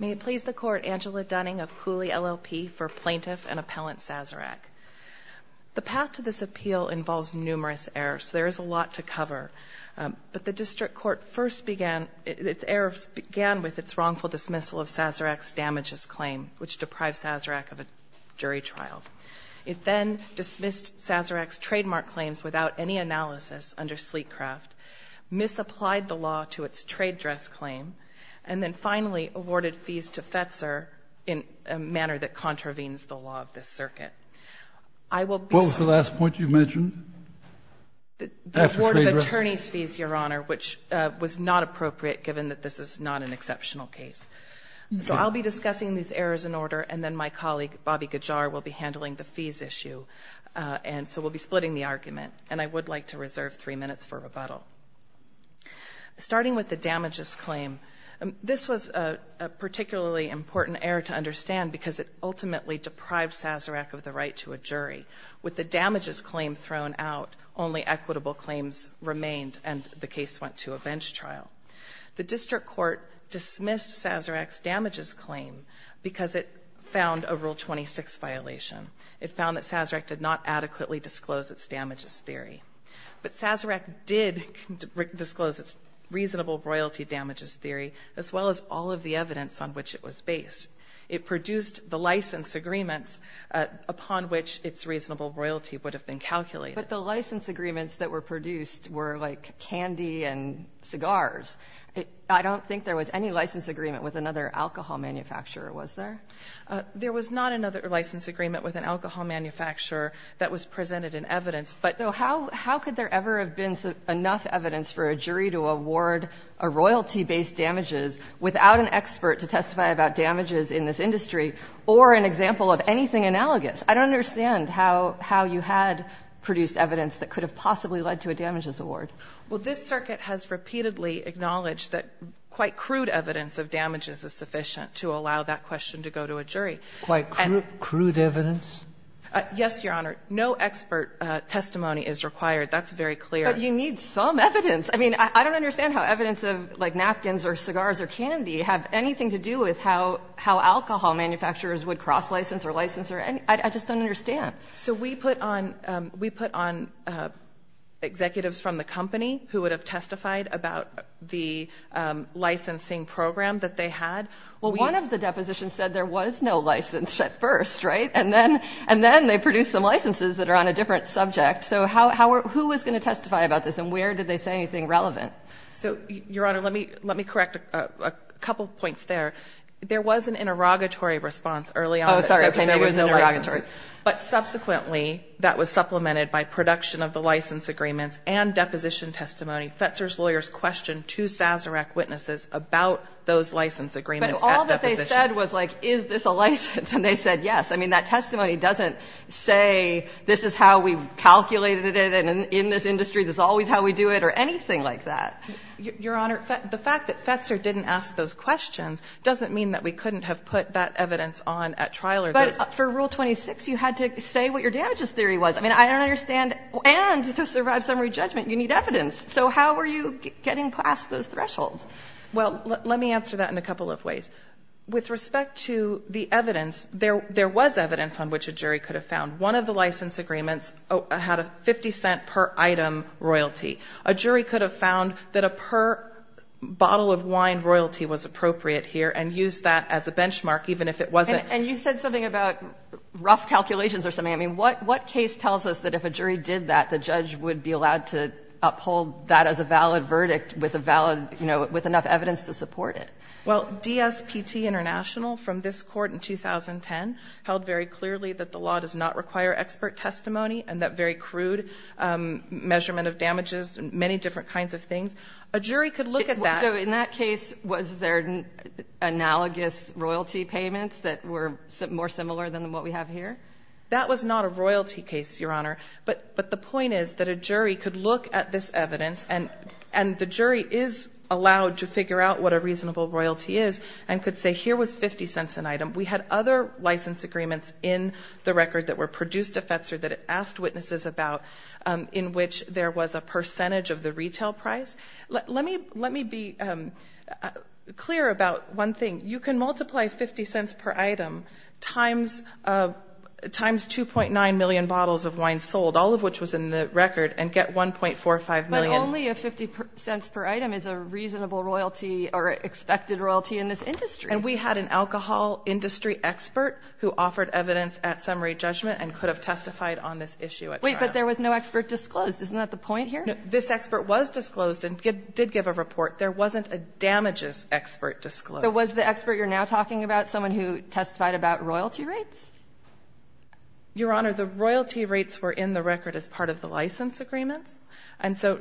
May it please the Court, Angela Dunning of Cooley, LLP, for Plaintiff and Appellant Sazerac. The path to this appeal involves numerous errors. There is a lot to cover. But the district court first began its errors began with its wrongful dismissal of Sazerac's damages claim, which deprived Sazerac of a jury trial. It then dismissed Sazerac's claims about any analysis under Sleetcraft, misapplied the law to its trade dress claim, and then finally awarded fees to Fetzer in a manner that contravenes the law of this circuit. I will be sorry. What was the last point you mentioned? The award of attorney's fees, Your Honor, which was not appropriate given that this is not an exceptional case. So I'll be discussing these errors in order, and then my colleague, Bobby Gajar, will be handling the fees issue. And so we'll be splitting the argument, and I would like to reserve three minutes for rebuttal. Starting with the damages claim, this was a particularly important error to understand because it ultimately deprived Sazerac of the right to a jury. With the damages claim thrown out, only equitable claims remained, and the case went to a bench trial. The district court dismissed Sazerac's damages claim because it found a Rule 26 violation. It found that Sazerac did not adequately disclose its damages theory. But Sazerac did disclose its reasonable royalty damages theory, as well as all of the evidence on which it was based. It produced the license agreements upon which its reasonable royalty would have been calculated. But the license agreements that were produced were like candy and cigars. I don't think there was any license agreement with another alcohol manufacturer, was there? There was not another license agreement with an alcohol manufacturer that was presented in evidence, but the lawyer's claim was that Sazerac did not adequately disclose its reasonable royalty damages theory. And so how could there ever have been enough evidence for a jury to award a royalty-based damages without an expert to testify about damages in this industry or an example of anything analogous? I don't understand how you had produced evidence that could have possibly led to a damages award. Well, this circuit has repeatedly acknowledged that quite crude evidence of damages is sufficient to allow that question to go to a jury. Quite crude evidence? Yes, Your Honor. No expert testimony is required. That's very clear. But you need some evidence. I mean, I don't understand how evidence of, like, napkins or cigars or candy have anything to do with how alcohol manufacturers would cross license or license or anything. I just don't understand. So we put on, we put on executives from the company who would have testified about the licensing program that they had. Well, one of the depositions said there was no license at first, right? And then, and then they produced some licenses that are on a different subject. So how, who was going to testify about this and where did they say anything relevant? So, Your Honor, let me, let me correct a couple points there. There was an interrogatory response early on. Oh, sorry. Okay. Maybe it was an interrogatory. But subsequently, that was supplemented by production of the license agreements and deposition testimony. Fetzer's lawyers questioned two Sazerac witnesses about those license agreements at deposition. But all that they said was, like, is this a license? And they said yes. I mean, that testimony doesn't say this is how we calculated it and in this industry, this is always how we do it or anything like that. Your Honor, the fact that Fetzer didn't ask those questions doesn't mean that we couldn't have put that evidence on at trial or this. But for Rule 26, you had to say what your damages theory was. I mean, I don't understand. And to survive summary judgment, you need evidence. So how were you getting past those thresholds? Well, let me answer that in a couple of ways. With respect to the evidence, there was evidence on which a jury could have found. One of the license agreements had a 50 cent per item royalty. A jury could have found that a per bottle of wine royalty was appropriate here and used that as a benchmark, even if it wasn't. And you said something about rough calculations or something. I mean, what case tells us that if a jury did that, the judge would be allowed to uphold that as a valid verdict with a valid, you know, with enough evidence to support it? Well, DSPT International from this Court in 2010 held very clearly that the law does not require expert testimony and that very crude measurement of damages, many different kinds of things. A jury could look at that. So in that case, was there analogous royalty payments that were more similar than what we have here? That was not a royalty case, Your Honor. But the point is that a jury could look at this evidence and the jury is allowed to figure out what a reasonable royalty is and could say here was 50 cents an item. We had other license agreements in the record that were produced to FETSER that it asked witnesses about in which there was a fair amount of royalty. So it's very clear about one thing. You can multiply 50 cents per item times 2.9 million bottles of wine sold, all of which was in the record, and get 1.45 million. But only if 50 cents per item is a reasonable royalty or expected royalty in this industry. And we had an alcohol industry expert who offered evidence at summary judgment and could have testified on this issue at trial. Wait, but there was no expert disclosed. Isn't that the point here? This expert was disclosed and did give a report. There wasn't a damages expert disclosed. So was the expert you're now talking about someone who testified about royalty rates? Your Honor, the royalty rates were in the record as part of the license agreements. And so,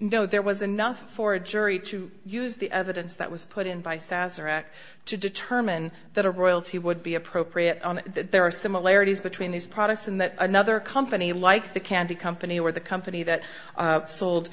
no, there was enough for a jury to use the evidence that was put in by Sazerac to determine that a royalty would be appropriate. There are similarities between these products in that another company, like the candy company or the company that sold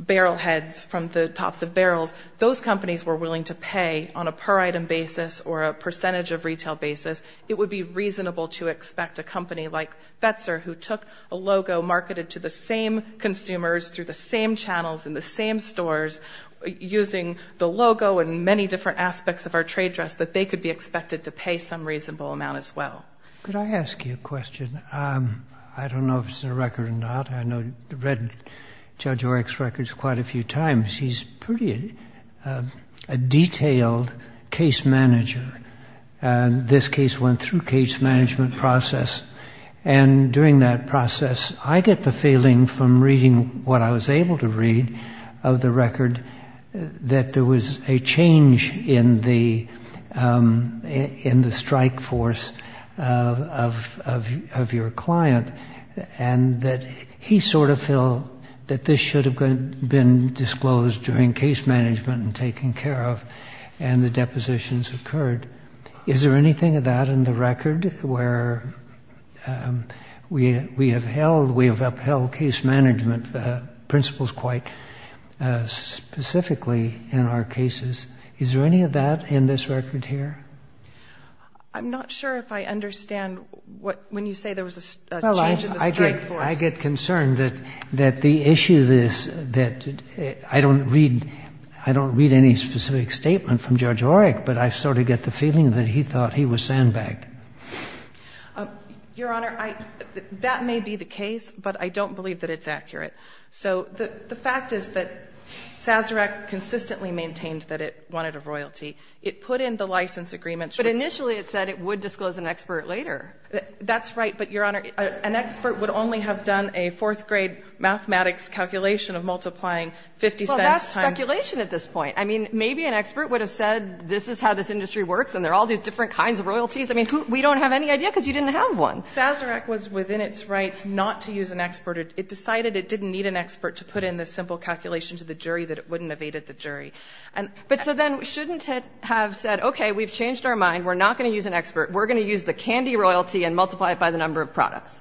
barrel heads from the tops of barrels, those companies were willing to pay on a per item basis or a percentage of retail basis. It would be reasonable to expect a company like Fetzer, who took a logo marketed to the same consumers through the same channels in the same stores, using the logo and many different aspects of our trade dress, that they could be expected to pay some reasonable amount as well. Could I ask you a question? I don't know if it's a record or not. I know you've read Judge Oreck's records quite a few times. He's pretty a detailed case manager. And this case went through case management process. And during that process, I get the feeling from reading what I was able to read of the record that there was a change in the in the strike force of your client and that he sort of feel that this should have been disclosed during case management and taken care of and the depositions occurred. Is there anything of that in the record where we have held, we have upheld case management principles quite specifically in our cases? Is there any of that in this record here? I'm not sure if I understand what when you say there was a change in the strike force. I get concerned that that the issue is that I don't read I don't read any specific statement from Judge Oreck, but I sort of get the feeling that he thought he was sandbagged. Your Honor, that may be the case, but I don't believe that it's accurate. So the fact is that Sazerac consistently maintained that it wanted a royalty. It put in the license agreement. But initially it said it would disclose an expert later. That's right. But, Your Honor, an expert would only have done a fourth grade mathematics calculation of multiplying 50 cents. That's speculation at this point. I mean, maybe an expert would have said this is how this industry works and there are all these different kinds of royalties. I mean, we don't have any idea because you didn't have one. Sazerac was within its rights not to use an expert. It decided it didn't need an expert to put in this simple calculation to the jury that it wouldn't have aided the jury. And so then shouldn't it have said, OK, we've changed our mind. We're not going to use an expert. We're going to use the candy royalty and multiply it by the number of products.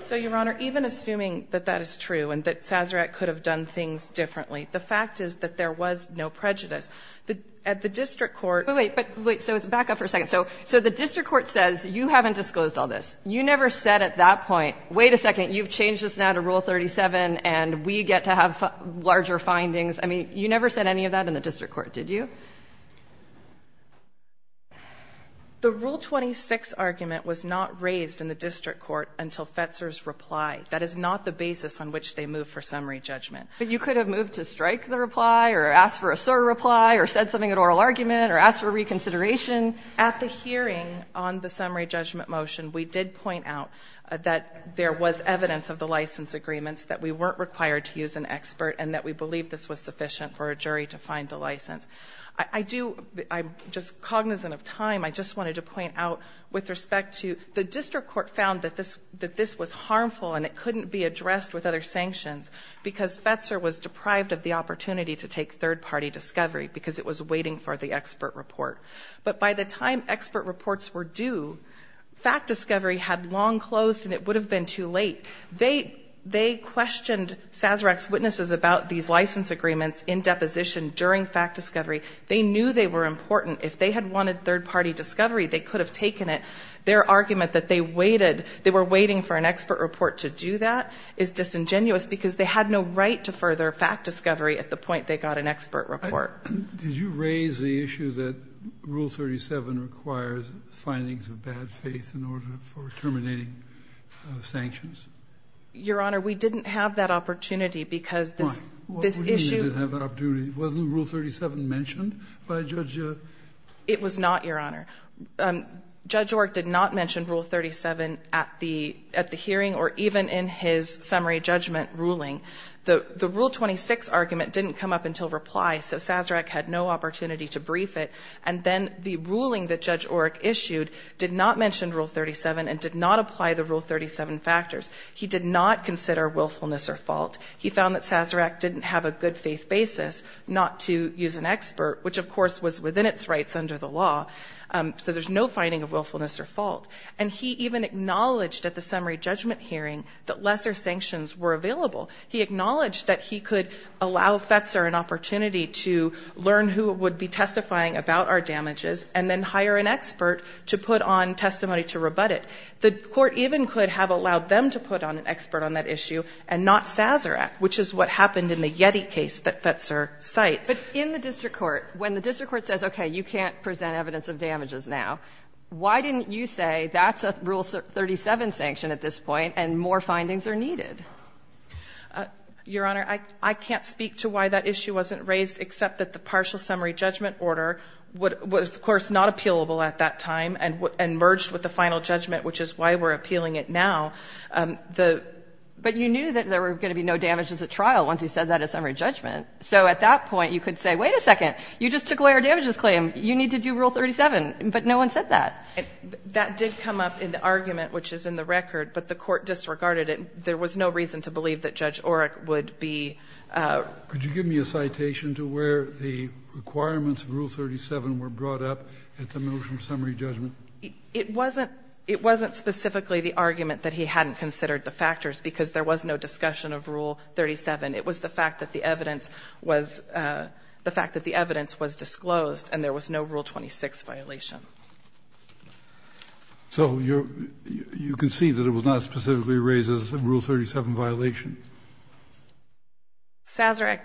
So, Your Honor, even assuming that that is true and that Sazerac could have done things differently, the fact is that there was no prejudice at the district court. But wait, so it's back up for a second. So so the district court says you haven't disclosed all this. You never said at that point, wait a second, you've changed this now to Rule 37 and we get to have larger findings. I mean, you never said any of that in the district court, did you? The Rule 26 argument was not raised in the district court until Fetzer's reply. That is not the basis on which they move for summary judgment. But you could have moved to strike the reply or ask for a surreply or said something in oral argument or ask for reconsideration. At the hearing on the summary judgment motion, we did point out that there was evidence of the license agreements, that we weren't required to use an expert and that we believe this was sufficient for a jury to find the license. I do. I'm just cognizant of time. I just wanted to point out with respect to the district court found that this that this was harmful and it couldn't be addressed with other sanctions because Fetzer was deprived of the opportunity to take third party discovery because it was waiting for the expert report. But by the time expert reports were due, fact discovery had long closed and it would have been too late. They they questioned Sazerac's witnesses about these license agreements in deposition during fact discovery. They knew they were important. If they had wanted third party discovery, they could have taken it. Their argument that they waited, they were waiting for an expert report to do that is disingenuous because they had no right to further fact discovery at the point they got an expert report. Did you raise the issue that Rule 37 requires findings of bad faith in order for terminating sanctions? Your Honor, we didn't have that opportunity because this this issue. Wasn't Rule 37 mentioned by Judge? It was not, Your Honor. Judge Orrick did not mention Rule 37 at the at the hearing or even in his summary judgment ruling. The Rule 26 argument didn't come up until reply. So Sazerac had no opportunity to brief it. And then the ruling that Judge Orrick issued did not mention Rule 37 and did not apply the Rule 37 factors. He did not consider willfulness or fault. He found that Sazerac didn't have a good faith basis not to use an expert, which of course was within its rights under the law. So there's no finding of willfulness or fault. And he even acknowledged at the summary judgment hearing that lesser sanctions were available. He acknowledged that he could allow Fetzer an opportunity to learn who would be testifying about our damages and then hire an expert to put on testimony to rebut it. The court even could have allowed them to put on an expert on that issue and not Sazerac, which is what happened in the Yeti case that Fetzer cites. But in the district court, when the district court says, okay, you can't present evidence of damages now, why didn't you say that's a Rule 37 sanction at this point and more findings are needed? Your Honor, I can't speak to why that issue wasn't raised, except that the partial summary judgment order was, of course, not appealable at that time and merged with the final judgment, which is why we're appealing it now. But you knew that there were going to be no damages at trial once he said that at summary judgment. So at that point, you could say, wait a second, you just took away our damages claim. You need to do Rule 37. But no one said that. That did come up in the argument, which is in the record, but the court disregarded it. There was no reason to believe that Judge Oreck would be ---- Could you give me a citation to where the requirements of Rule 37 were brought up at the motion of summary judgment? It wasn't specifically the argument that he hadn't considered the factors, because there was no discussion of Rule 37. It was the fact that the evidence was disclosed and there was no Rule 26 violation. So you concede that it was not specifically raised as a Rule 37 violation? Sazerac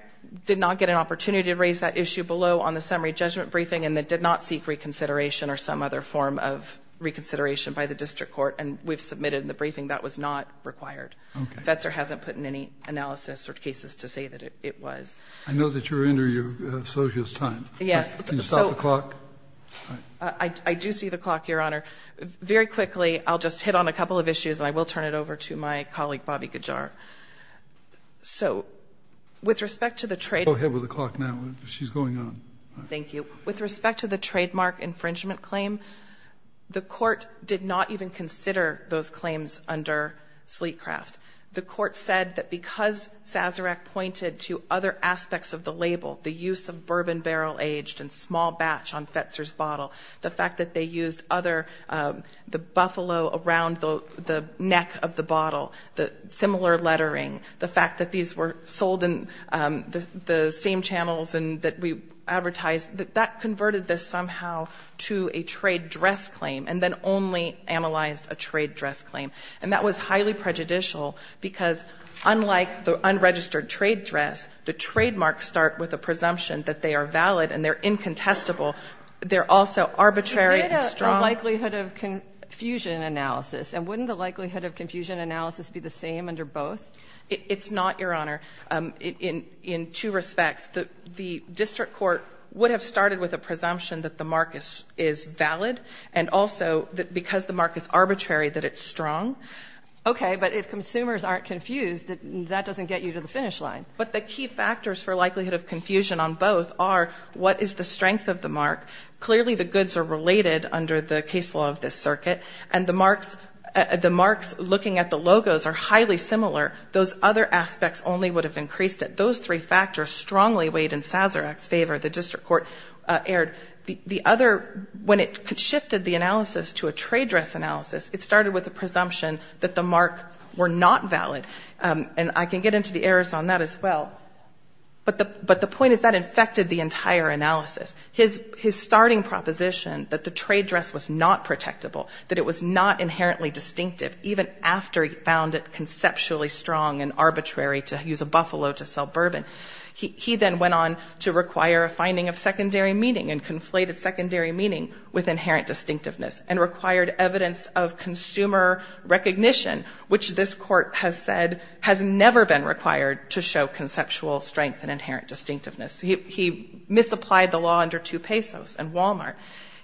did not get an opportunity to raise that issue below on the summary judgment and that did not seek reconsideration or some other form of reconsideration by the district court. And we've submitted in the briefing that was not required. Okay. Fetzer hasn't put in any analysis or cases to say that it was. I know that you're under your associates time. Yes. Can you stop the clock? I do see the clock, Your Honor. Very quickly, I'll just hit on a couple of issues and I will turn it over to my colleague, Bobby Gajar. So with respect to the trade---- Go ahead with the clock now. She's going on. Thank you. With respect to the trademark infringement claim, the court did not even consider those claims under Sleetcraft. The court said that because Sazerac pointed to other aspects of the label, the use of bourbon barrel aged in small batch on Fetzer's bottle, the fact that they used other, the buffalo around the neck of the bottle, the similar lettering, the fact that these were sold in the same channels that we advertised, that that converted this somehow to a trade dress claim and then only analyzed a trade dress claim. And that was highly prejudicial because unlike the unregistered trade dress, the trademarks start with a presumption that they are valid and they're incontestable. They're also arbitrary and strong. You did a likelihood of confusion analysis. And wouldn't the likelihood of confusion analysis be the same under both? It's not, Your Honor. In two respects. The district court would have started with a presumption that the mark is valid and also because the mark is arbitrary, that it's strong. Okay. But if consumers aren't confused, that doesn't get you to the finish line. But the key factors for likelihood of confusion on both are what is the strength of the mark. Clearly, the goods are related under the case law of this circuit. And the marks looking at the logos are highly similar. Those other aspects only would have increased it. Those three factors strongly weighed in Sazerac's favor, the district court erred. The other, when it shifted the analysis to a trade dress analysis, it started with a presumption that the mark were not valid. And I can get into the errors on that as well. But the point is that infected the entire analysis. His starting proposition that the trade dress was not protectable, that it was not inherently distinctive, even after he found it conceptually strong and arbitrary to use a buffalo to sell bourbon. He then went on to require a finding of secondary meaning and conflated secondary meaning with inherent distinctiveness. And required evidence of consumer recognition, which this court has said has never been required to show conceptual strength and inherent distinctiveness. He misapplied the law under 2 pesos and Walmart.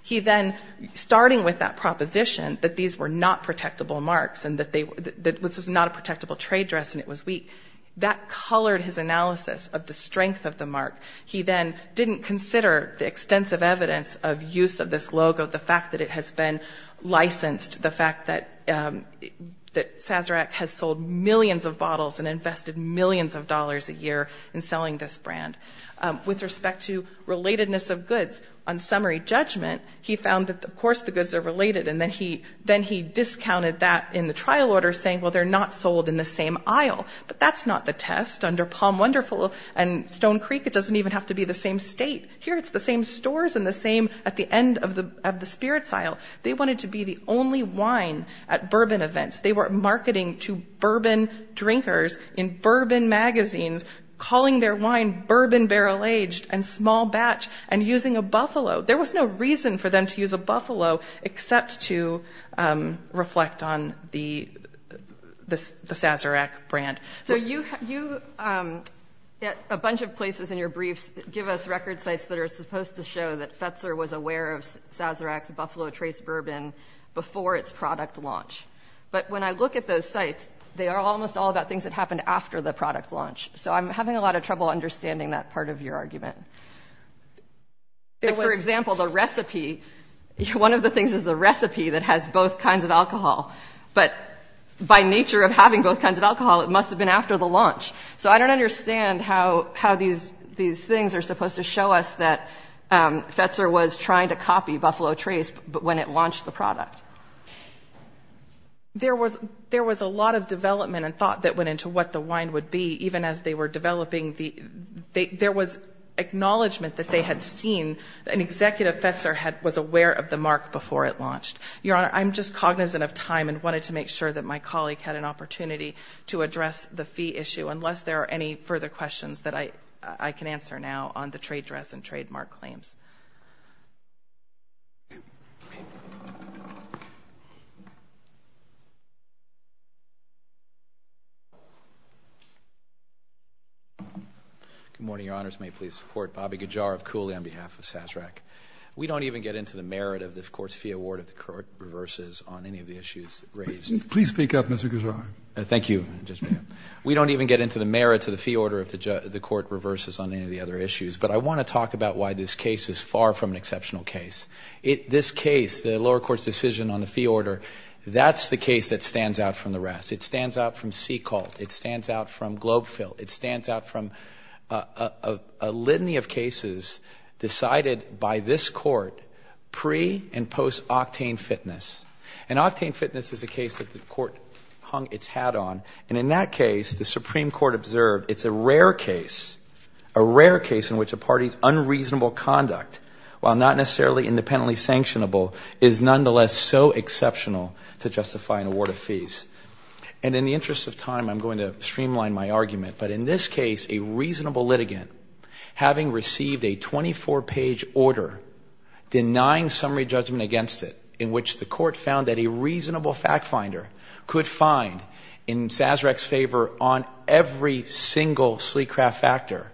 He then, starting with that proposition that these were not protectable marks and that this was not a protectable trade dress and it was weak, that colored his analysis of the strength of the mark. He then didn't consider the extensive evidence of use of this logo, the fact that it has been licensed, the fact that Sazerac has sold millions of bottles and invested millions of dollars a year in selling this brand. With respect to relatedness of goods, on summary judgment, he found that, of course, the goods are related and then he discounted that in the trial order saying, well, they're not sold in the same aisle. But that's not the test. Under Palm Wonderful and Stone Creek, it doesn't even have to be the same state. Here it's the same stores and the same at the end of the spirits aisle. They wanted to be the only wine at bourbon events. They were marketing to bourbon drinkers in bourbon magazines, calling their wine bourbon barrel aged and small batch and using a buffalo. There was no reason for them to use a buffalo except to reflect on the Sazerac brand. So you, a bunch of places in your briefs give us record sites that are supposed to show that Fetzer was aware of Sazerac's buffalo trace bourbon before its product launch. But when I look at those sites, they are almost all about things that happened after the product launch. So I'm having a lot of trouble understanding that part of your argument. For example, the recipe, one of the things is the recipe that has both kinds of alcohol. But by nature of having both kinds of alcohol, it must have been after the launch. So I don't understand how these things are supposed to show us that Fetzer was trying to copy buffalo trace, but when it launched the product. There was a lot of development and thought that went into what the wine would be, even as they were developing the, there was acknowledgment that they had seen, an executive Fetzer was aware of the mark before it launched. Your Honor, I'm just cognizant of time and wanted to make sure that my colleague had an opportunity to address the fee issue, unless there are any further questions that I can answer now on the trade dress and trademark claims. Good morning, Your Honors. May it please the Court. Bobby Gujar of Cooley on behalf of SASRAC. We don't even get into the merit of this Court's fee award if the Court reverses on any of the issues raised. Please speak up, Mr. Gujar. Thank you, Judge Mayotte. We don't even get into the merit of the fee order if the Court reverses on any of the other issues, but I want to talk about why this case is far from an exceptional case. This case, the lower court's decision on the fee order, that's the case that stands out from the rest. It stands out from C-Cult. It stands out from Globe-Phil. It stands out from a litany of cases decided by this Court pre- and post-Octane Fitness. And Octane Fitness is a case that the Court hung its hat on. And in that case, the Supreme Court observed it's a rare case, a rare case in which a party's unreasonable conduct, while not necessarily independently sanctionable, is nonetheless so exceptional to justify an award of fees. And in the interest of time, I'm going to streamline my argument. But in this case, a reasonable litigant, having received a 24-page order denying summary judgment against it, in which the Court found that a reasonable fact finder could find, in Sazerac's favor, on every single sleek craft factor,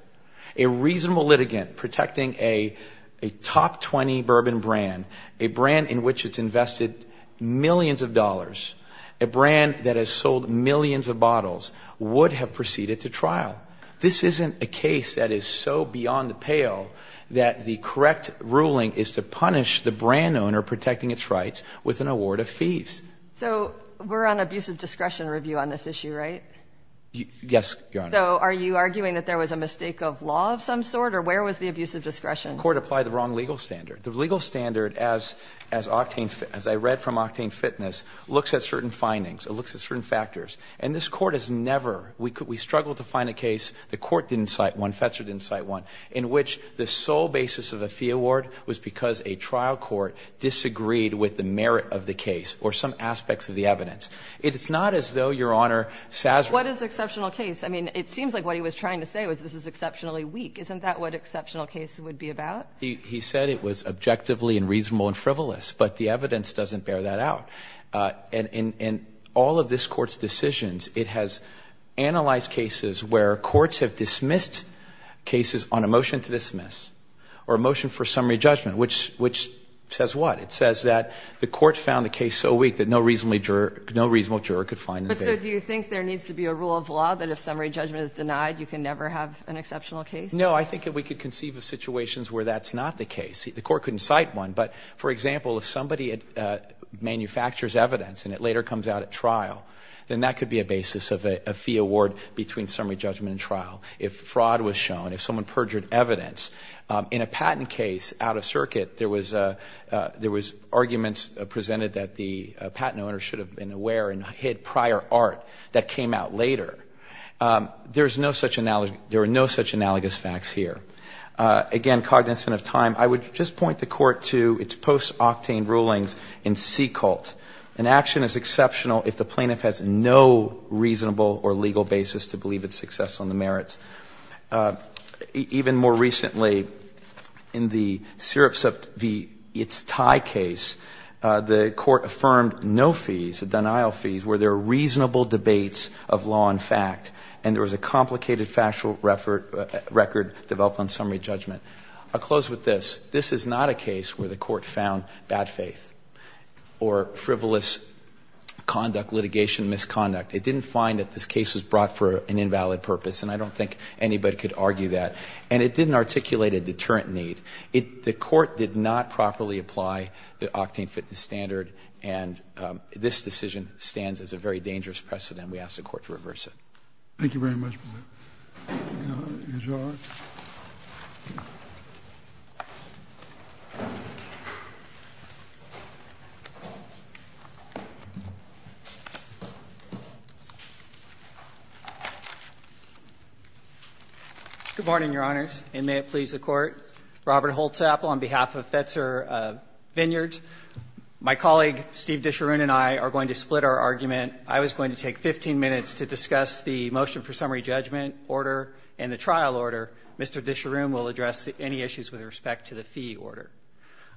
a reasonable litigant protecting a top 20 bourbon brand, a brand in which it's invested millions of dollars, a brand that has sold millions of bottles, would have proceeded to trial. This isn't a case that is so beyond the pale that the correct ruling is to punish the brand owner protecting its rights with an award of fees. So we're on abusive discretion review on this issue, right? Yes, Your Honor. So are you arguing that there was a mistake of law of some sort, or where was the abusive discretion? The Court applied the wrong legal standard. The legal standard, as I read from Octane Fitness, looks at certain findings. It looks at certain factors. And this Court has never, we struggled to find a case, the Court didn't cite one, Fetzer didn't cite one, in which the sole basis of a fee award was because a trial court disagreed with the merit of the case or some aspects of the evidence. It is not as though, Your Honor, Sazerac. What is exceptional case? I mean, it seems like what he was trying to say was this is exceptionally weak. Isn't that what exceptional case would be about? He said it was objectively and reasonable and frivolous, but the evidence doesn't bear that out. And in all of this Court's decisions, it has analyzed cases where courts have dismissed cases on a motion to dismiss or a motion for summary judgment, which says what? It says that the Court found the case so weak that no reasonable juror could find it. But so do you think there needs to be a rule of law that if summary judgment is denied, you can never have an exceptional case? No, I think that we could conceive of situations where that's not the case. The Court couldn't cite one, but for example, if somebody manufactures evidence and it later comes out at trial, then that could be a basis of a fee award between summary judgment and trial if fraud was shown, if someone perjured evidence. In a patent case out of circuit, there was arguments presented that the patent owner should have been aware and hid prior art that came out later. There is no such analogy – there are no such analogous facts here. Again, cognizant of time, I would just point the Court to its post-Octane rulings in C. Colt. An action is exceptional if the plaintiff has no reasonable or legal basis to believe its success on the merits. Even more recently, in the Syrups v. Itztai case, the Court affirmed no fees, the denial fees, where there are reasonable debates of law and fact, and there was a complicated factual record developed on summary judgment. I'll close with this. This is not a case where the Court found bad faith or frivolous conduct, litigation misconduct. It didn't find that this case was brought for an invalid purpose, and I don't think anybody could argue that. And it didn't articulate a deterrent need. It – the Court did not properly apply the Octane fitness standard, and this decision stands as a very dangerous precedent, and we ask the Court to reverse it. Thank you very much, Mr. Gannon. Mr. Arnott. Good morning, Your Honors, and may it please the Court. Robert Holtzappel on behalf of Fetzer Vineyards. My colleague, Steve Disharoon, and I are going to split our argument. I was going to take 15 minutes to discuss the motion for summary judgment order and the trial order. Mr. Disharoon will address any issues with respect to the fee order.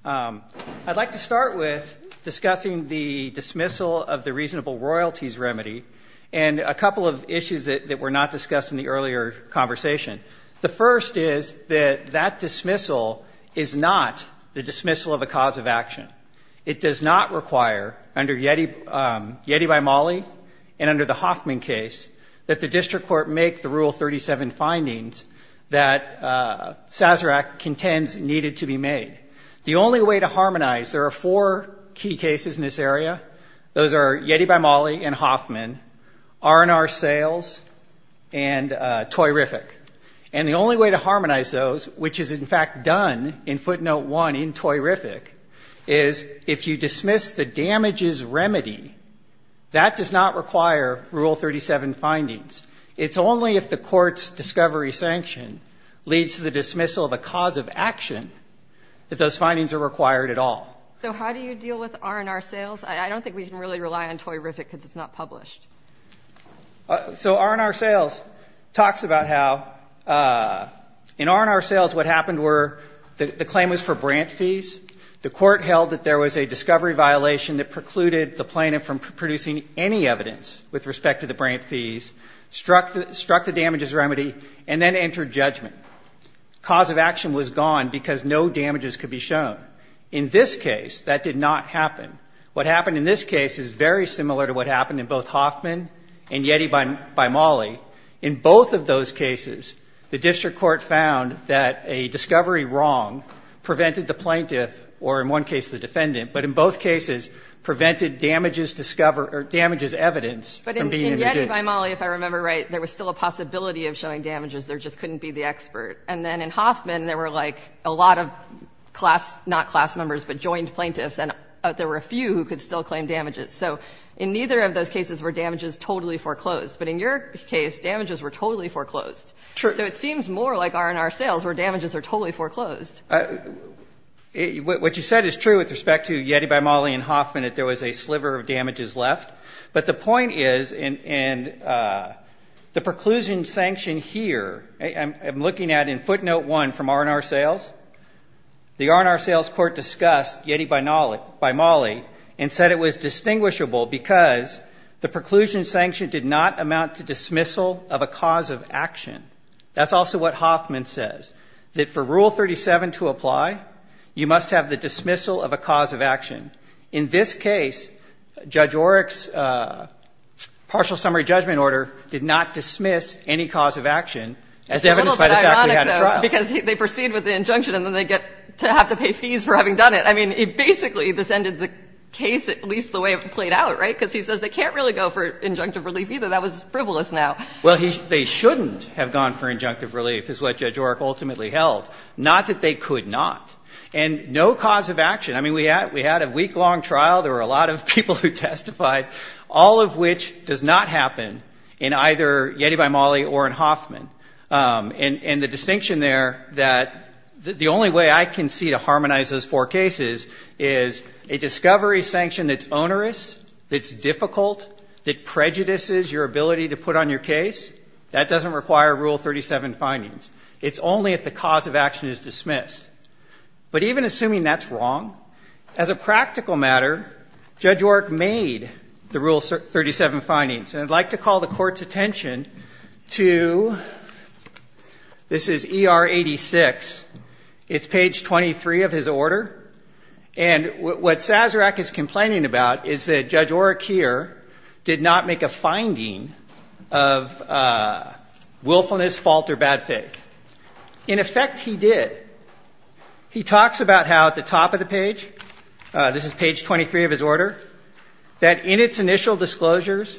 I'd like to start with discussing the dismissal of the reasonable royalties remedy and a couple of issues that were not discussed in the earlier conversation. The first is that that dismissal is not the dismissal of a cause of action. It does not require, under Yeti by Mollie and under the Hoffman case, that the District Court make the Rule 37 findings that Sazerac contends needed to be made. The only way to harmonize – there are four key cases in this area. Those are Yeti by Mollie and Hoffman, R&R Sales and Toyrific. And the only way to harmonize those, which is in fact done in footnote 1 in Toyrific, is if you dismiss the damages remedy, that does not require Rule 37 findings. It's only if the court's discovery sanction leads to the dismissal of a cause of action that those findings are required at all. So how do you deal with R&R Sales? I don't think we can really rely on Toyrific because it's not published. So R&R Sales talks about how in R&R Sales what happened were the claim was for grant fees. The court held that there was a discovery violation that precluded the plaintiff from producing any evidence with respect to the grant fees, struck the damages remedy, and then entered judgment. Cause of action was gone because no damages could be shown. In this case, that did not happen. What happened in this case is very similar to what happened in both Hoffman and Yeti by Mollie. In both of those cases, the district court found that a discovery wrong prevented the plaintiff, or in one case the defendant, but in both cases prevented damages discovered or damages evidence from being produced. But in Yeti by Mollie, if I remember right, there was still a possibility of showing damages. There just couldn't be the expert. And then in Hoffman, there were like a lot of class, not class members, but joint plaintiffs, and there were a few who could still claim damages. So in neither of those cases were damages totally foreclosed. But in your case, damages were totally foreclosed. So it seems more like R&R Sales where damages are totally foreclosed. What you said is true with respect to Yeti by Mollie and Hoffman, that there was a sliver of damages left. But the point is, and the preclusion sanction here, I'm looking at in footnote 1 from R&R Sales, the R&R Sales court discussed Yeti by Mollie and said it was distinguishable because the preclusion sanction did not amount to dismissal of a cause of action. That's also what Hoffman says, that for Rule 37 to apply, you must have the dismissal of a cause of action. In this case, Judge Oreck's partial summary judgment order did not dismiss any cause of action as evidenced by the fact we had a trial. And so I think that's a good point, because they proceed with the injunction and then they get to have to pay fees for having done it. I mean, basically, this ended the case at least the way it played out, right, because he says they can't really go for injunctive relief either. That was frivolous now. Well, they shouldn't have gone for injunctive relief, is what Judge Oreck ultimately held, not that they could not, and no cause of action. I mean, we had a week-long trial. There were a lot of people who testified, all of which does not happen in either Yeti by Mollie or in Hoffman. And the distinction there that the only way I can see to harmonize those four cases is a discovery sanction that's onerous, that's difficult, that prejudices your ability to put on your case, that doesn't require Rule 37 findings. It's only if the cause of action is dismissed. But even assuming that's wrong, as a practical matter, Judge Oreck made the Rule 37 findings. And I'd like to call the Court's attention to, this is ER 86. It's page 23 of his order. And what Sazerac is complaining about is that Judge Oreck here did not make a finding of willfulness, fault, or bad faith. In effect, he did. He talks about how at the top of the page, this is page 23 of his order, that in its initial disclosures,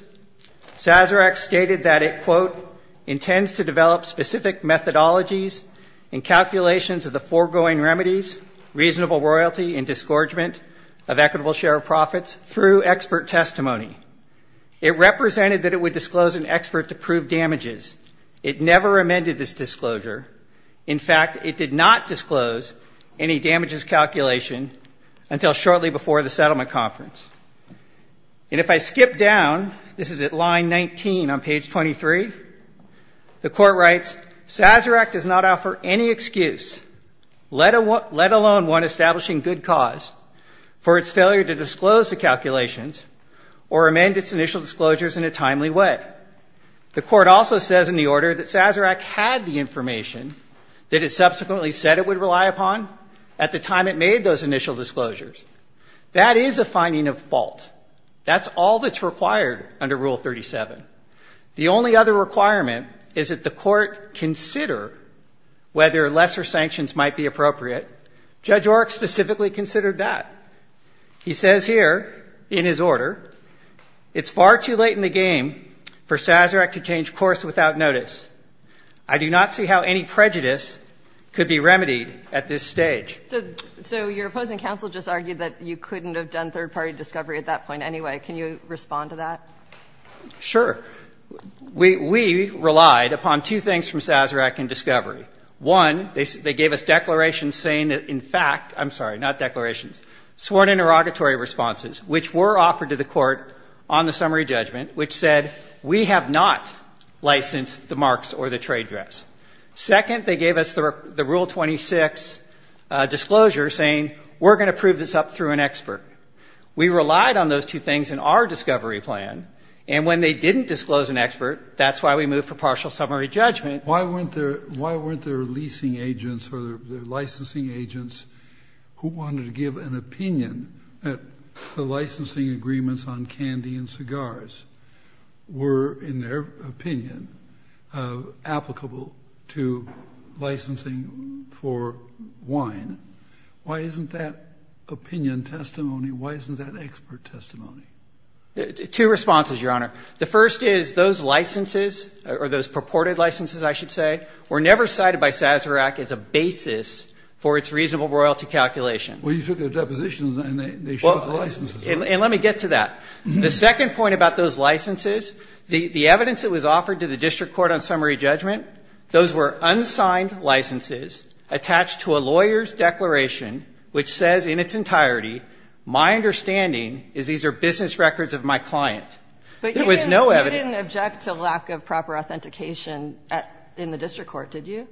Sazerac stated that it, quote, intends to develop specific methodologies in calculations of the foregoing remedies, reasonable royalty, and disgorgement of equitable share of profits through expert testimony. It represented that it would disclose an expert to prove damages. It never amended this disclosure. In fact, it did not disclose any damages calculation until shortly before the settlement conference. And if I skip down, this is at line 19 on page 23, the court writes, Sazerac does not offer any excuse, let alone one establishing good cause, for its failure to disclose the calculations or amend its initial disclosures in a timely way. The court also says in the order that Sazerac had the information that it subsequently said it would rely upon. At the time it made those initial disclosures. That is a finding of fault. That's all that's required under Rule 37. The only other requirement is that the court consider whether lesser sanctions might be appropriate. Judge Orrick specifically considered that. He says here, in his order, it's far too late in the game for Sazerac to change course without notice. I do not see how any prejudice could be remedied at this stage. So your opposing counsel just argued that you couldn't have done third-party discovery at that point anyway. Can you respond to that? Sure. We relied upon two things from Sazerac in discovery. One, they gave us declarations saying that, in fact, I'm sorry, not declarations, sworn interrogatory responses, which were offered to the court on the summary judgment, which said we have not licensed the marks or the trade dress. Second, they gave us the Rule 26 disclosure saying we're going to prove this up through an expert. We relied on those two things in our discovery plan, and when they didn't disclose an expert, that's why we moved for partial summary judgment. Why weren't there leasing agents or licensing agents who wanted to give an opinion that the licensing agreements on candy and cigars were, in their opinion, applicable to licensing for wine? Why isn't that opinion testimony? Why isn't that expert testimony? Two responses, Your Honor. The first is those licenses, or those purported licenses, I should say, were never cited by Sazerac as a basis for its reasonable royalty calculation. Well, you took their depositions and they showed the licenses. And let me get to that. The second point about those licenses, the evidence that was offered to the district court on summary judgment, those were unsigned licenses attached to a lawyer's declaration, which says in its entirety, my understanding is these are business records of my client. There was no evidence. But you didn't object to lack of proper authentication in the district court, did you?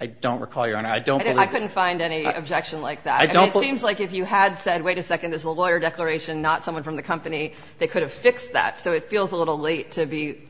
I don't recall, Your Honor. I don't believe it. I couldn't find any objection like that. I mean, it seems like if you had said, wait a second, this is a lawyer declaration, not someone from the company, they could have fixed that. So it feels a little late to be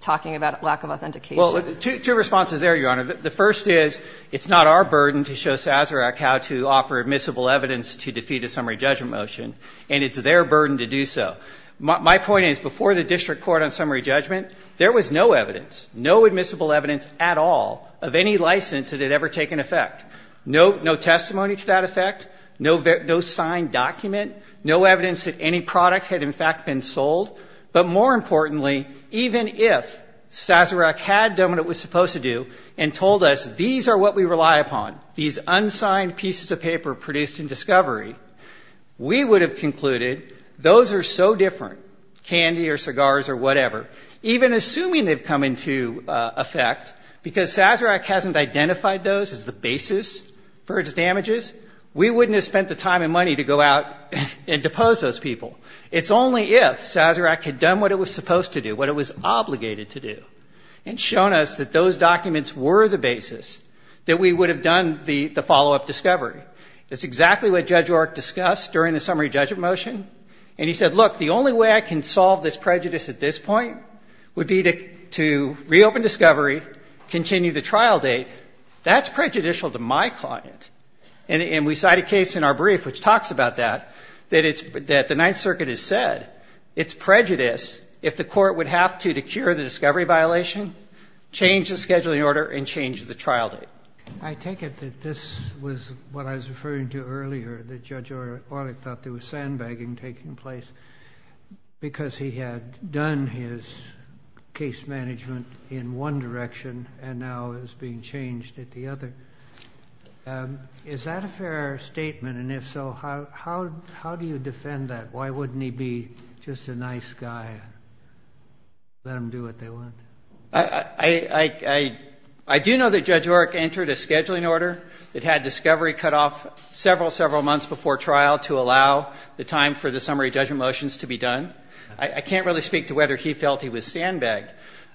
talking about lack of authentication. Well, two responses there, Your Honor. The first is, it's not our burden to show Sazerac how to offer admissible evidence to defeat a summary judgment motion, and it's their burden to do so. My point is, before the district court on summary judgment, there was no evidence, no admissible evidence at all of any license that had ever taken effect. No testimony to that effect, no signed document, no evidence that any product had in fact been sold. But more importantly, even if Sazerac had done what it was supposed to do and told us these are what we rely upon, these unsigned pieces of paper produced in discovery, we would have concluded those are so different, candy or cigars or whatever, even assuming they've come into effect, because Sazerac hasn't identified those as the basis for its damages, we wouldn't have spent the time and money to go out and depose those people. It's only if Sazerac had done what it was supposed to do, what it was obligated to do, and shown us that those documents were the basis, that we would have done the follow-up discovery. That's exactly what Judge Orrick discussed during the summary judgment motion. And he said, look, the only way I can solve this prejudice at this point would be to reopen discovery, continue the trial date. That's prejudicial to my client. And we cite a case in our brief which talks about that, that the Ninth Circuit has said it's prejudice if the court would have to, to cure the discovery violation, change the scheduling order, and change the trial date. I take it that this was what I was referring to earlier, that Judge Orrick thought there was sandbagging taking place. Because he had done his case management in one direction and now is being changed at the other. Is that a fair statement? And if so, how do you defend that? Why wouldn't he be just a nice guy and let them do what they want? I do know that Judge Orrick entered a scheduling order. It had discovery cut off several, several months before trial to allow the time for the summary judgment motions to be done. I can't really speak to whether he felt he was sandbagged.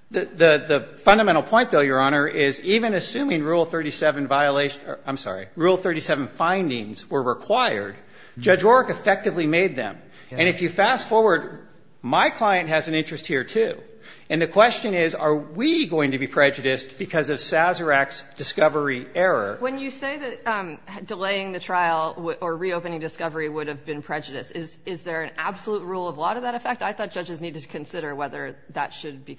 The fundamental point, though, Your Honor, is even assuming Rule 37 violations, I'm sorry, Rule 37 findings were required, Judge Orrick effectively made them. And if you fast forward, my client has an interest here, too. And the question is, are we going to be prejudiced because of Sazerac's discovery error? When you say that delaying the trial or reopening discovery would have been prejudiced, is there an absolute rule of law to that effect? I thought judges needed to consider whether that should be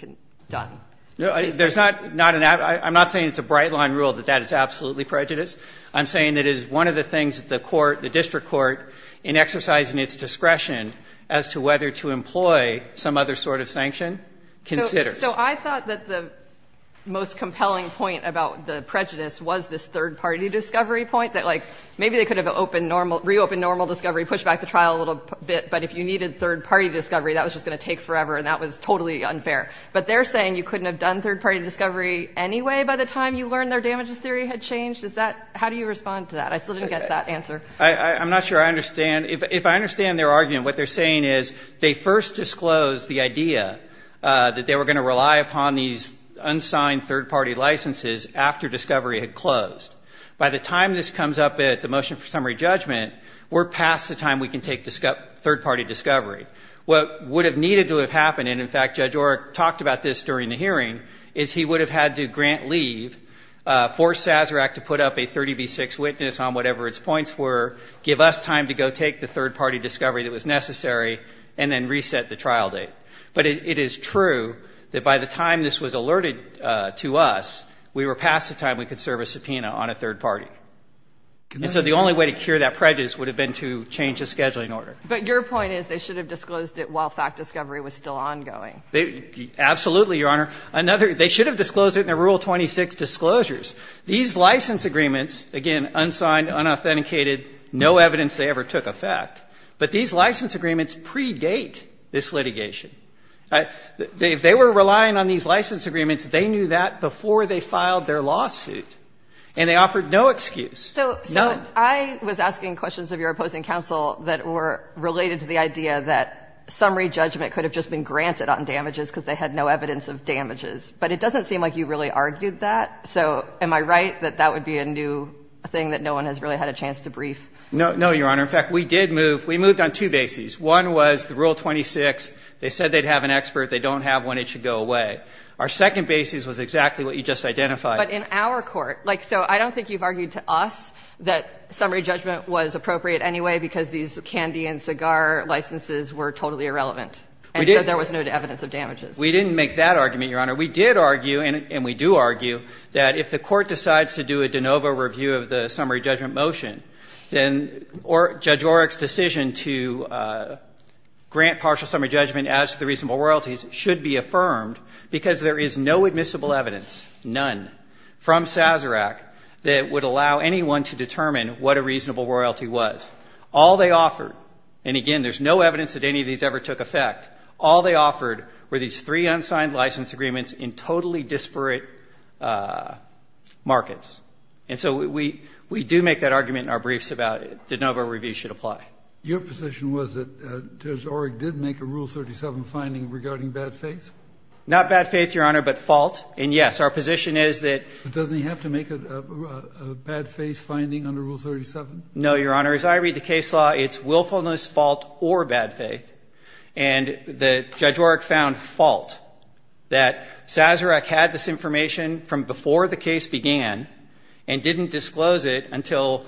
done. There's not an absolute. I'm not saying it's a bright-line rule that that is absolutely prejudiced. I'm saying it is one of the things that the court, the district court, in exercising its discretion as to whether to employ some other sort of sanction considers. So I thought that the most compelling point about the prejudice was this third-party discovery point, that, like, maybe they could have reopened normal discovery, pushed back the trial a little bit, but if you needed third-party discovery, that was just going to take forever, and that was totally unfair. But they're saying you couldn't have done third-party discovery anyway by the time you learned their damages theory had changed? Is that – how do you respond to that? I still didn't get that answer. I'm not sure I understand. If I understand their argument, what they're saying is they first disclosed the idea that they were going to rely upon these unsigned third-party licenses after discovery had closed. By the time this comes up at the motion for summary judgment, we're past the time we can take third-party discovery. What would have needed to have happened – and, in fact, Judge Oreck talked about this during the hearing – is he would have had to grant leave, force Sazerac to put up a 30 v. 6 witness on whatever its points were, give us time to go take the trial date. But it is true that by the time this was alerted to us, we were past the time we could serve a subpoena on a third party. And so the only way to cure that prejudice would have been to change the scheduling order. But your point is they should have disclosed it while fact discovery was still ongoing. Absolutely, Your Honor. Another – they should have disclosed it in their Rule 26 disclosures. These license agreements – again, unsigned, unauthenticated, no evidence they ever took effect – but these license agreements pre-date this litigation. If they were relying on these license agreements, they knew that before they filed their lawsuit, and they offered no excuse, none. So I was asking questions of your opposing counsel that were related to the idea that summary judgment could have just been granted on damages because they had no evidence of damages. But it doesn't seem like you really argued that. So am I right that that would be a new thing that no one has really had a chance to brief? No, Your Honor. In fact, we did move – we moved on two bases. One was the Rule 26. They said they'd have an expert. They don't have one. It should go away. Our second basis was exactly what you just identified. But in our court – like, so I don't think you've argued to us that summary judgment was appropriate anyway because these candy and cigar licenses were totally irrelevant. We didn't. And so there was no evidence of damages. We didn't make that argument, Your Honor. We did argue, and we do argue, that if the Court decides to do a de novo review of the summary judgment motion, then Judge Oreck's decision to grant partial summary judgment as to the reasonable royalties should be affirmed because there is no admissible evidence, none, from Sazerac that would allow anyone to determine what a reasonable royalty was. All they offered – and again, there's no evidence that any of these ever took effect – all they offered were these three unsigned license agreements in totally disparate markets. And so we do make that argument in our briefs about de novo review should apply. Your position was that Judge Oreck did make a Rule 37 finding regarding bad faith? Not bad faith, Your Honor, but fault. And yes, our position is that – But doesn't he have to make a bad faith finding under Rule 37? No, Your Honor. As I read the case law, it's willfulness, fault, or bad faith. And Judge Oreck found fault that Sazerac had this information from before the case began and didn't disclose it until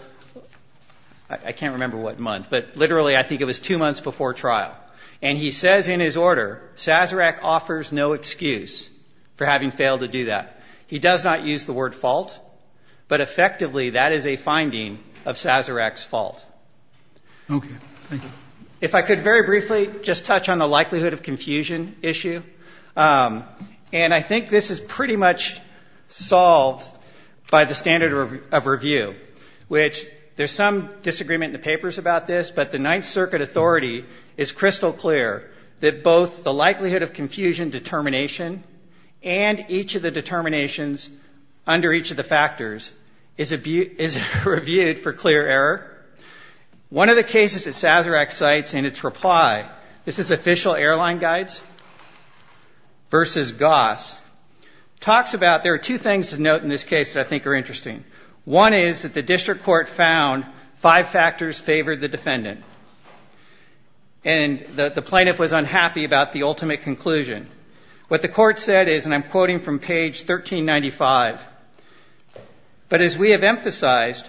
– I can't remember what month, but literally, I think it was two months before trial. And he says in his order, Sazerac offers no excuse for having failed to do that. He does not use the word fault, but effectively, that is a finding of Sazerac's fault. Okay. Thank you. If I could very briefly just touch on the likelihood of confusion issue. And I think this is pretty much solved by the standard of review, which there's some disagreement in the papers about this, but the Ninth Circuit authority is crystal clear that both the likelihood of confusion determination and each of the determinations under each of the factors is reviewed for clear error. One of the cases that Sazerac cites in its reply – this is official airline guides. Versus Goss. Talks about – there are two things to note in this case that I think are interesting. One is that the district court found five factors favored the defendant. And the plaintiff was unhappy about the ultimate conclusion. What the court said is, and I'm quoting from page 1395, but as we have emphasized,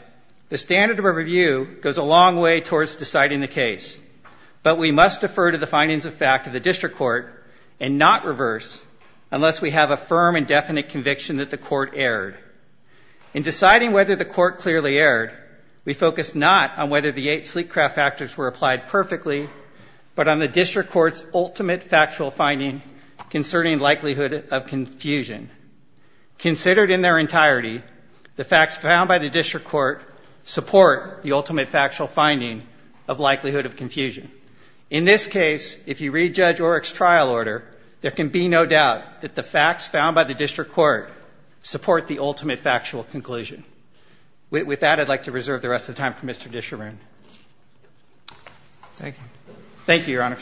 the standard of review goes a long way towards deciding the case. But we must defer to the findings of fact of the district court and not reverse unless we have a firm and definite conviction that the court erred. In deciding whether the court clearly erred, we focused not on whether the eight sleek craft factors were applied perfectly, but on the district court's ultimate factual finding concerning likelihood of confusion. Considered in their entirety, the facts found by the district court support the ultimate factual conclusion. In this case, if you read Judge Oreck's trial order, there can be no doubt that the facts found by the district court support the ultimate factual conclusion. With that, I'd like to reserve the rest of the time for Mr. Disharoon. Thank you, Your Honors.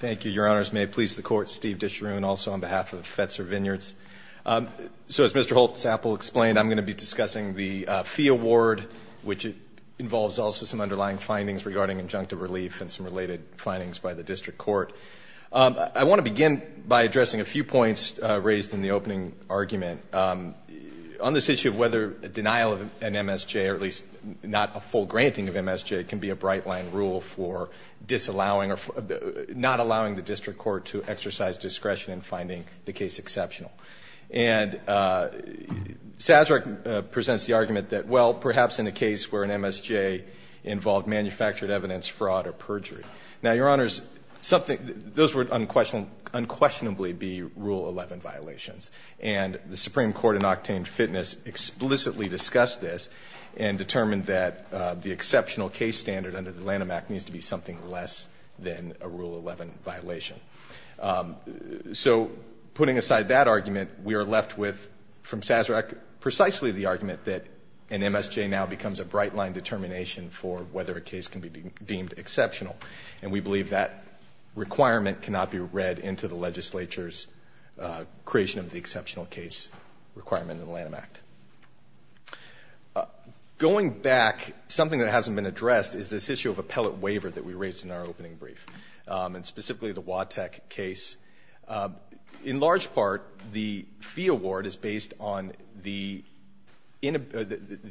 Thank you, Your Honors. May it please the Court, Steve Disharoon, also on behalf of Fetzer Vineyards. So as Mr. Holtz-Appel explained, I'm going to be discussing the fee award, which involves also some underlying findings regarding injunctive relief and some related findings by the district court. I want to begin by addressing a few points raised in the opening argument. On this issue of whether denial of an MSJ, or at least not a full granting of MSJ, can be a bright-line rule for disallowing or not allowing the district court to exercise discretion in finding the case exceptional. And Sazerac presents the argument that, well, perhaps in a case where an MSJ involved manufactured evidence, fraud, or perjury. Now, Your Honors, those would unquestionably be Rule 11 violations. And the Supreme Court and Octane Fitness explicitly discussed this and determined that the exceptional case standard under the Lanham Act needs to be something less than a Rule 11 violation. So putting aside that argument, we are left with, from Sazerac, precisely the argument that an MSJ now becomes a bright-line determination for whether a case can be deemed exceptional. And we believe that requirement cannot be read into the legislature's creation of the exceptional case requirement in the Lanham Act. Going back, something that hasn't been addressed is this issue of appellate waiver that we raised in our opening brief, and specifically the Watek case. In large part, the fee award is based on the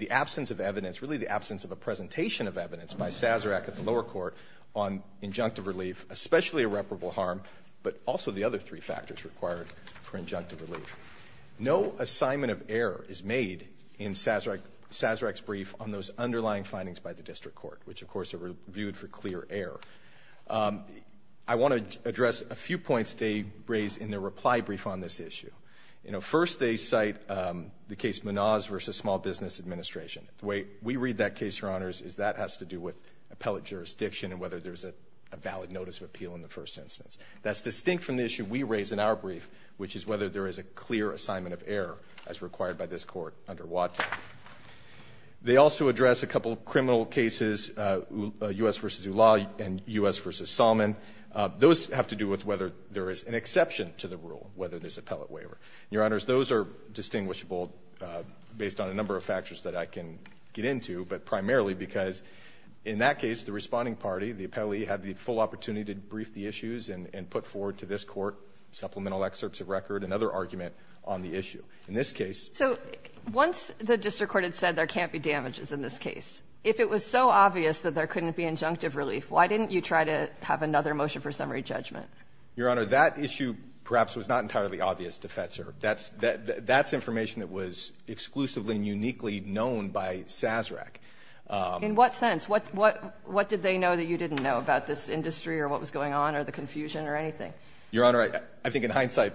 absence of evidence, really the absence of a presentation of evidence by Sazerac at the lower court on injunctive relief, especially irreparable harm, but also the other three factors required for injunctive relief. No assignment of error is made in Sazerac's brief on those underlying findings by the district court, which, of course, are reviewed for clear error. I want to address a few points they raise in their reply brief on this issue. First, they cite the case Manoz v. Small Business Administration. The way we read that case, Your Honors, is that has to do with appellate jurisdiction and whether there's a valid notice of appeal in the first instance. That's distinct from the issue we raise in our brief, which is whether there is a clear assignment of error as required by this court under Watek. They also address a couple criminal cases, U.S. v. Ula and U.S. v. Salmon. Those have to do with whether there is an exception to the rule, whether there's appellate waiver. Your Honors, those are distinguishable based on a number of factors that I can get into, but primarily because in that case, the responding party, the appellee, had the full opportunity to brief the issues and put forward to this court supplemental excerpts of record and another argument on the issue. In this case — So once the district court had said there can't be damages in this case, if it was so obvious that there couldn't be injunctive relief, why didn't you try to have another motion for summary judgment? Your Honor, that issue perhaps was not entirely obvious to Fetzer. That's information that was exclusively and uniquely known by Sazerac. In what sense? What did they know that you didn't know about this industry or what was going on or the confusion or anything? Your Honor, I think in hindsight,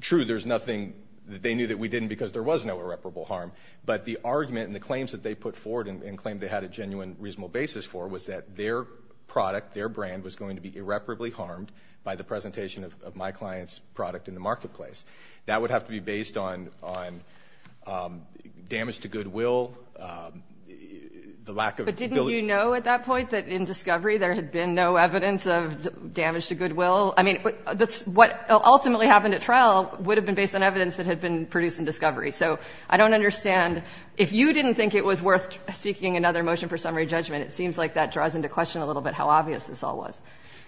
true, there's nothing that they knew that we didn't because there was no irreparable harm. But the argument and the claims that they put forward and claimed they had a genuine reasonable basis for was that their product, their brand was going to be irreparably harmed by the presentation of my client's product in the marketplace. That would have to be based on damage to goodwill, the lack of ability to do that. But didn't you know at that point that in discovery there had been no evidence of damage to goodwill? I mean, what ultimately happened at trial would have been based on evidence that had been produced in discovery. So I don't understand. If you didn't think it was worth seeking another motion for summary judgment, it seems like that draws into question a little bit how obvious this all was.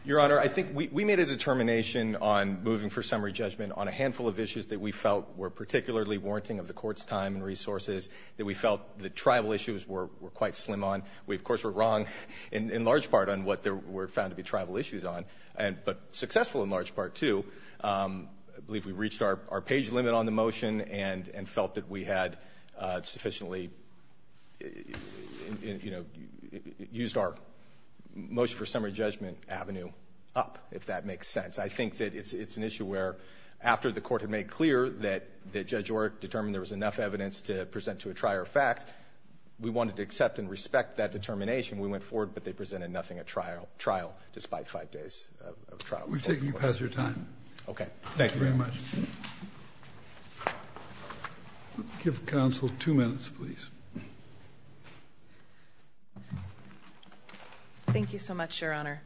Your Honor, I think we made a determination on moving for summary judgment on a handful of issues that we felt were particularly warranting of the Court's time and resources, that we felt the tribal issues were quite slim on. We, of course, were wrong in large part on what there were found to be tribal issues on, but successful in large part, too. I believe we reached our page limit on the motion and felt that we had sufficiently used our motion for summary judgment avenue up, if that makes sense. I think that it's an issue where after the Court had made clear that Judge Orrick determined there was enough evidence to present to a trier of fact, we wanted to accept and respect that determination. We went forward, but they presented nothing at trial despite five days of trial. We've taken you past your time. Okay. Thank you very much. Thank you very much. I'll give counsel two minutes, please. Thank you so much, Your Honor.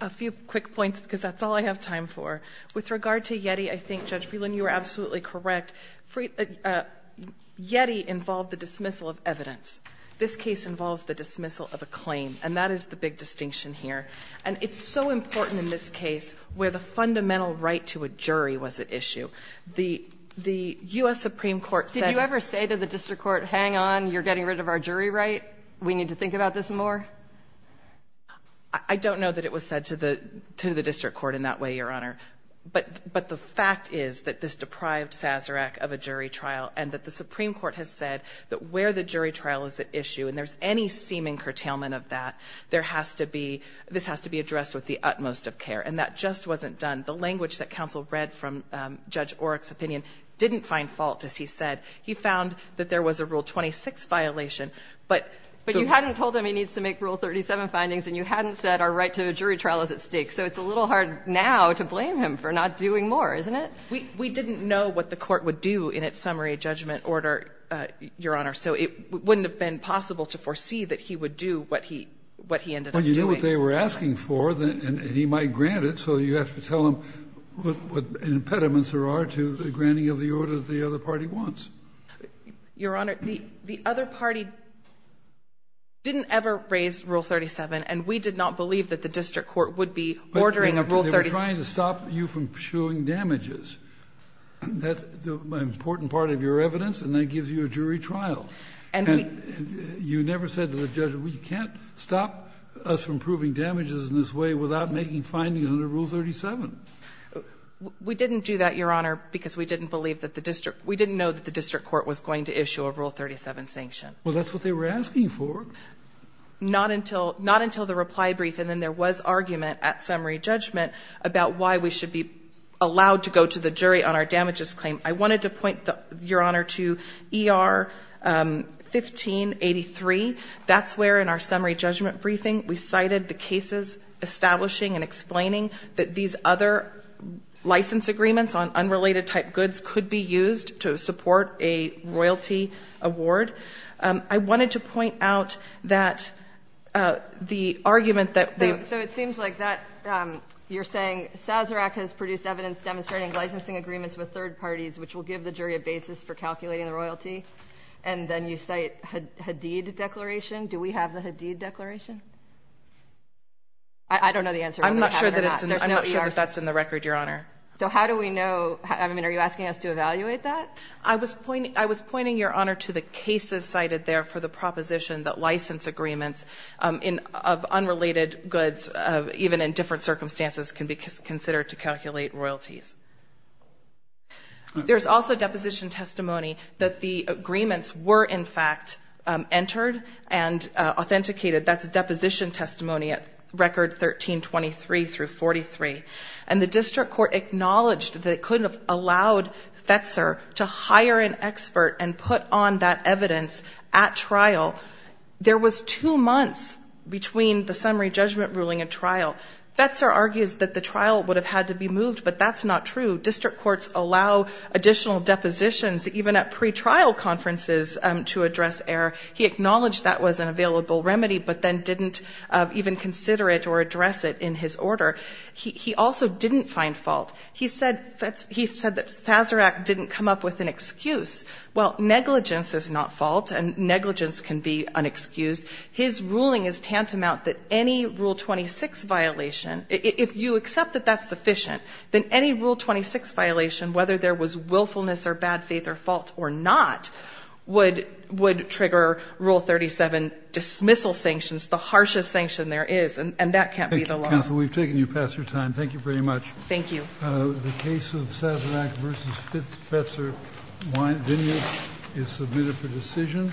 A few quick points because that's all I have time for. With regard to Yeti, I think Judge Freeland, you were absolutely correct. Yeti involved the dismissal of evidence. This case involves the dismissal of a claim, and that is the big distinction here. And it's so important in this case where the fundamental right to a jury was at issue. The U.S. Supreme Court said that the district court said, hang on, you're getting rid of our jury right, we need to think about this more. I don't know that it was said to the district court in that way, Your Honor. But the fact is that this deprived Sazerac of a jury trial, and that the Supreme Court said the right to a jury trial is at issue, and there's any seeming curtailment of that, there has to be, this has to be addressed with the utmost of care, and that just wasn't done. The language that counsel read from Judge Oryk's opinion didn't find fault, as he said. He found that there was a Rule 26 violation, but the rule 37 findings, and you hadn't said our right to a jury trial is at stake, so it's a little hard now to blame him for not doing more, isn't it? We didn't know what the court would do in its summary judgment order, Your Honor. So it wouldn't have been possible to foresee that he would do what he ended up doing. But you knew what they were asking for, and he might grant it, so you have to tell him what impediments there are to the granting of the order that the other party wants. Your Honor, the other party didn't ever raise Rule 37, and we did not believe that the district court would be ordering a Rule 37. I'm trying to stop you from showing damages. That's an important part of your evidence, and that gives you a jury trial. And you never said to the judge, we can't stop us from proving damages in this way without making findings under Rule 37. We didn't do that, Your Honor, because we didn't believe that the district we didn't know that the district court was going to issue a Rule 37 sanction. Well, that's what they were asking for. Not until the reply brief, and then there was argument at summary judgment, about why we should be allowed to go to the jury on our damages claim. I wanted to point, Your Honor, to ER 1583. That's where in our summary judgment briefing we cited the cases establishing and explaining that these other license agreements on unrelated type goods could be used to support a royalty award. I wanted to point out that the argument that they've So it seems like that you're saying Sazerac has produced evidence demonstrating licensing agreements with third parties, which will give the jury a basis for calculating the royalty. And then you cite Hadid declaration. Do we have the Hadid declaration? I don't know the answer. I'm not sure that that's in the record, Your Honor. So how do we know, I mean, are you asking us to evaluate that? I was pointing, Your Honor, to the cases cited there for the proposition that license agreements of unrelated goods, even in different circumstances, can be considered to calculate royalties. There's also deposition testimony that the agreements were, in fact, entered and authenticated, that's a deposition testimony at record 1323 through 43. And the district court acknowledged that it couldn't have allowed Fetzer to hire an expert and put on that evidence at trial. There was two months between the summary judgment ruling and trial. Fetzer argues that the trial would have had to be moved, but that's not true. District courts allow additional depositions, even at pre-trial conferences, to address error. He acknowledged that was an available remedy, but then didn't even consider it or address it in his order. He also didn't find fault. He said that Sazerac didn't come up with an excuse. Well, negligence is not fault, and negligence can be unexcused. His ruling is tantamount that any Rule 26 violation, if you accept that that's sufficient, that any Rule 26 violation, whether there was willfulness or bad faith or fault or not, would trigger Rule 37 dismissal sanctions, the harshest sanction there is. And that can't be the law. Counsel, we've taken you past your time. Thank you very much. Thank you. The case of Sazerac versus Fetzer is submitted for decision.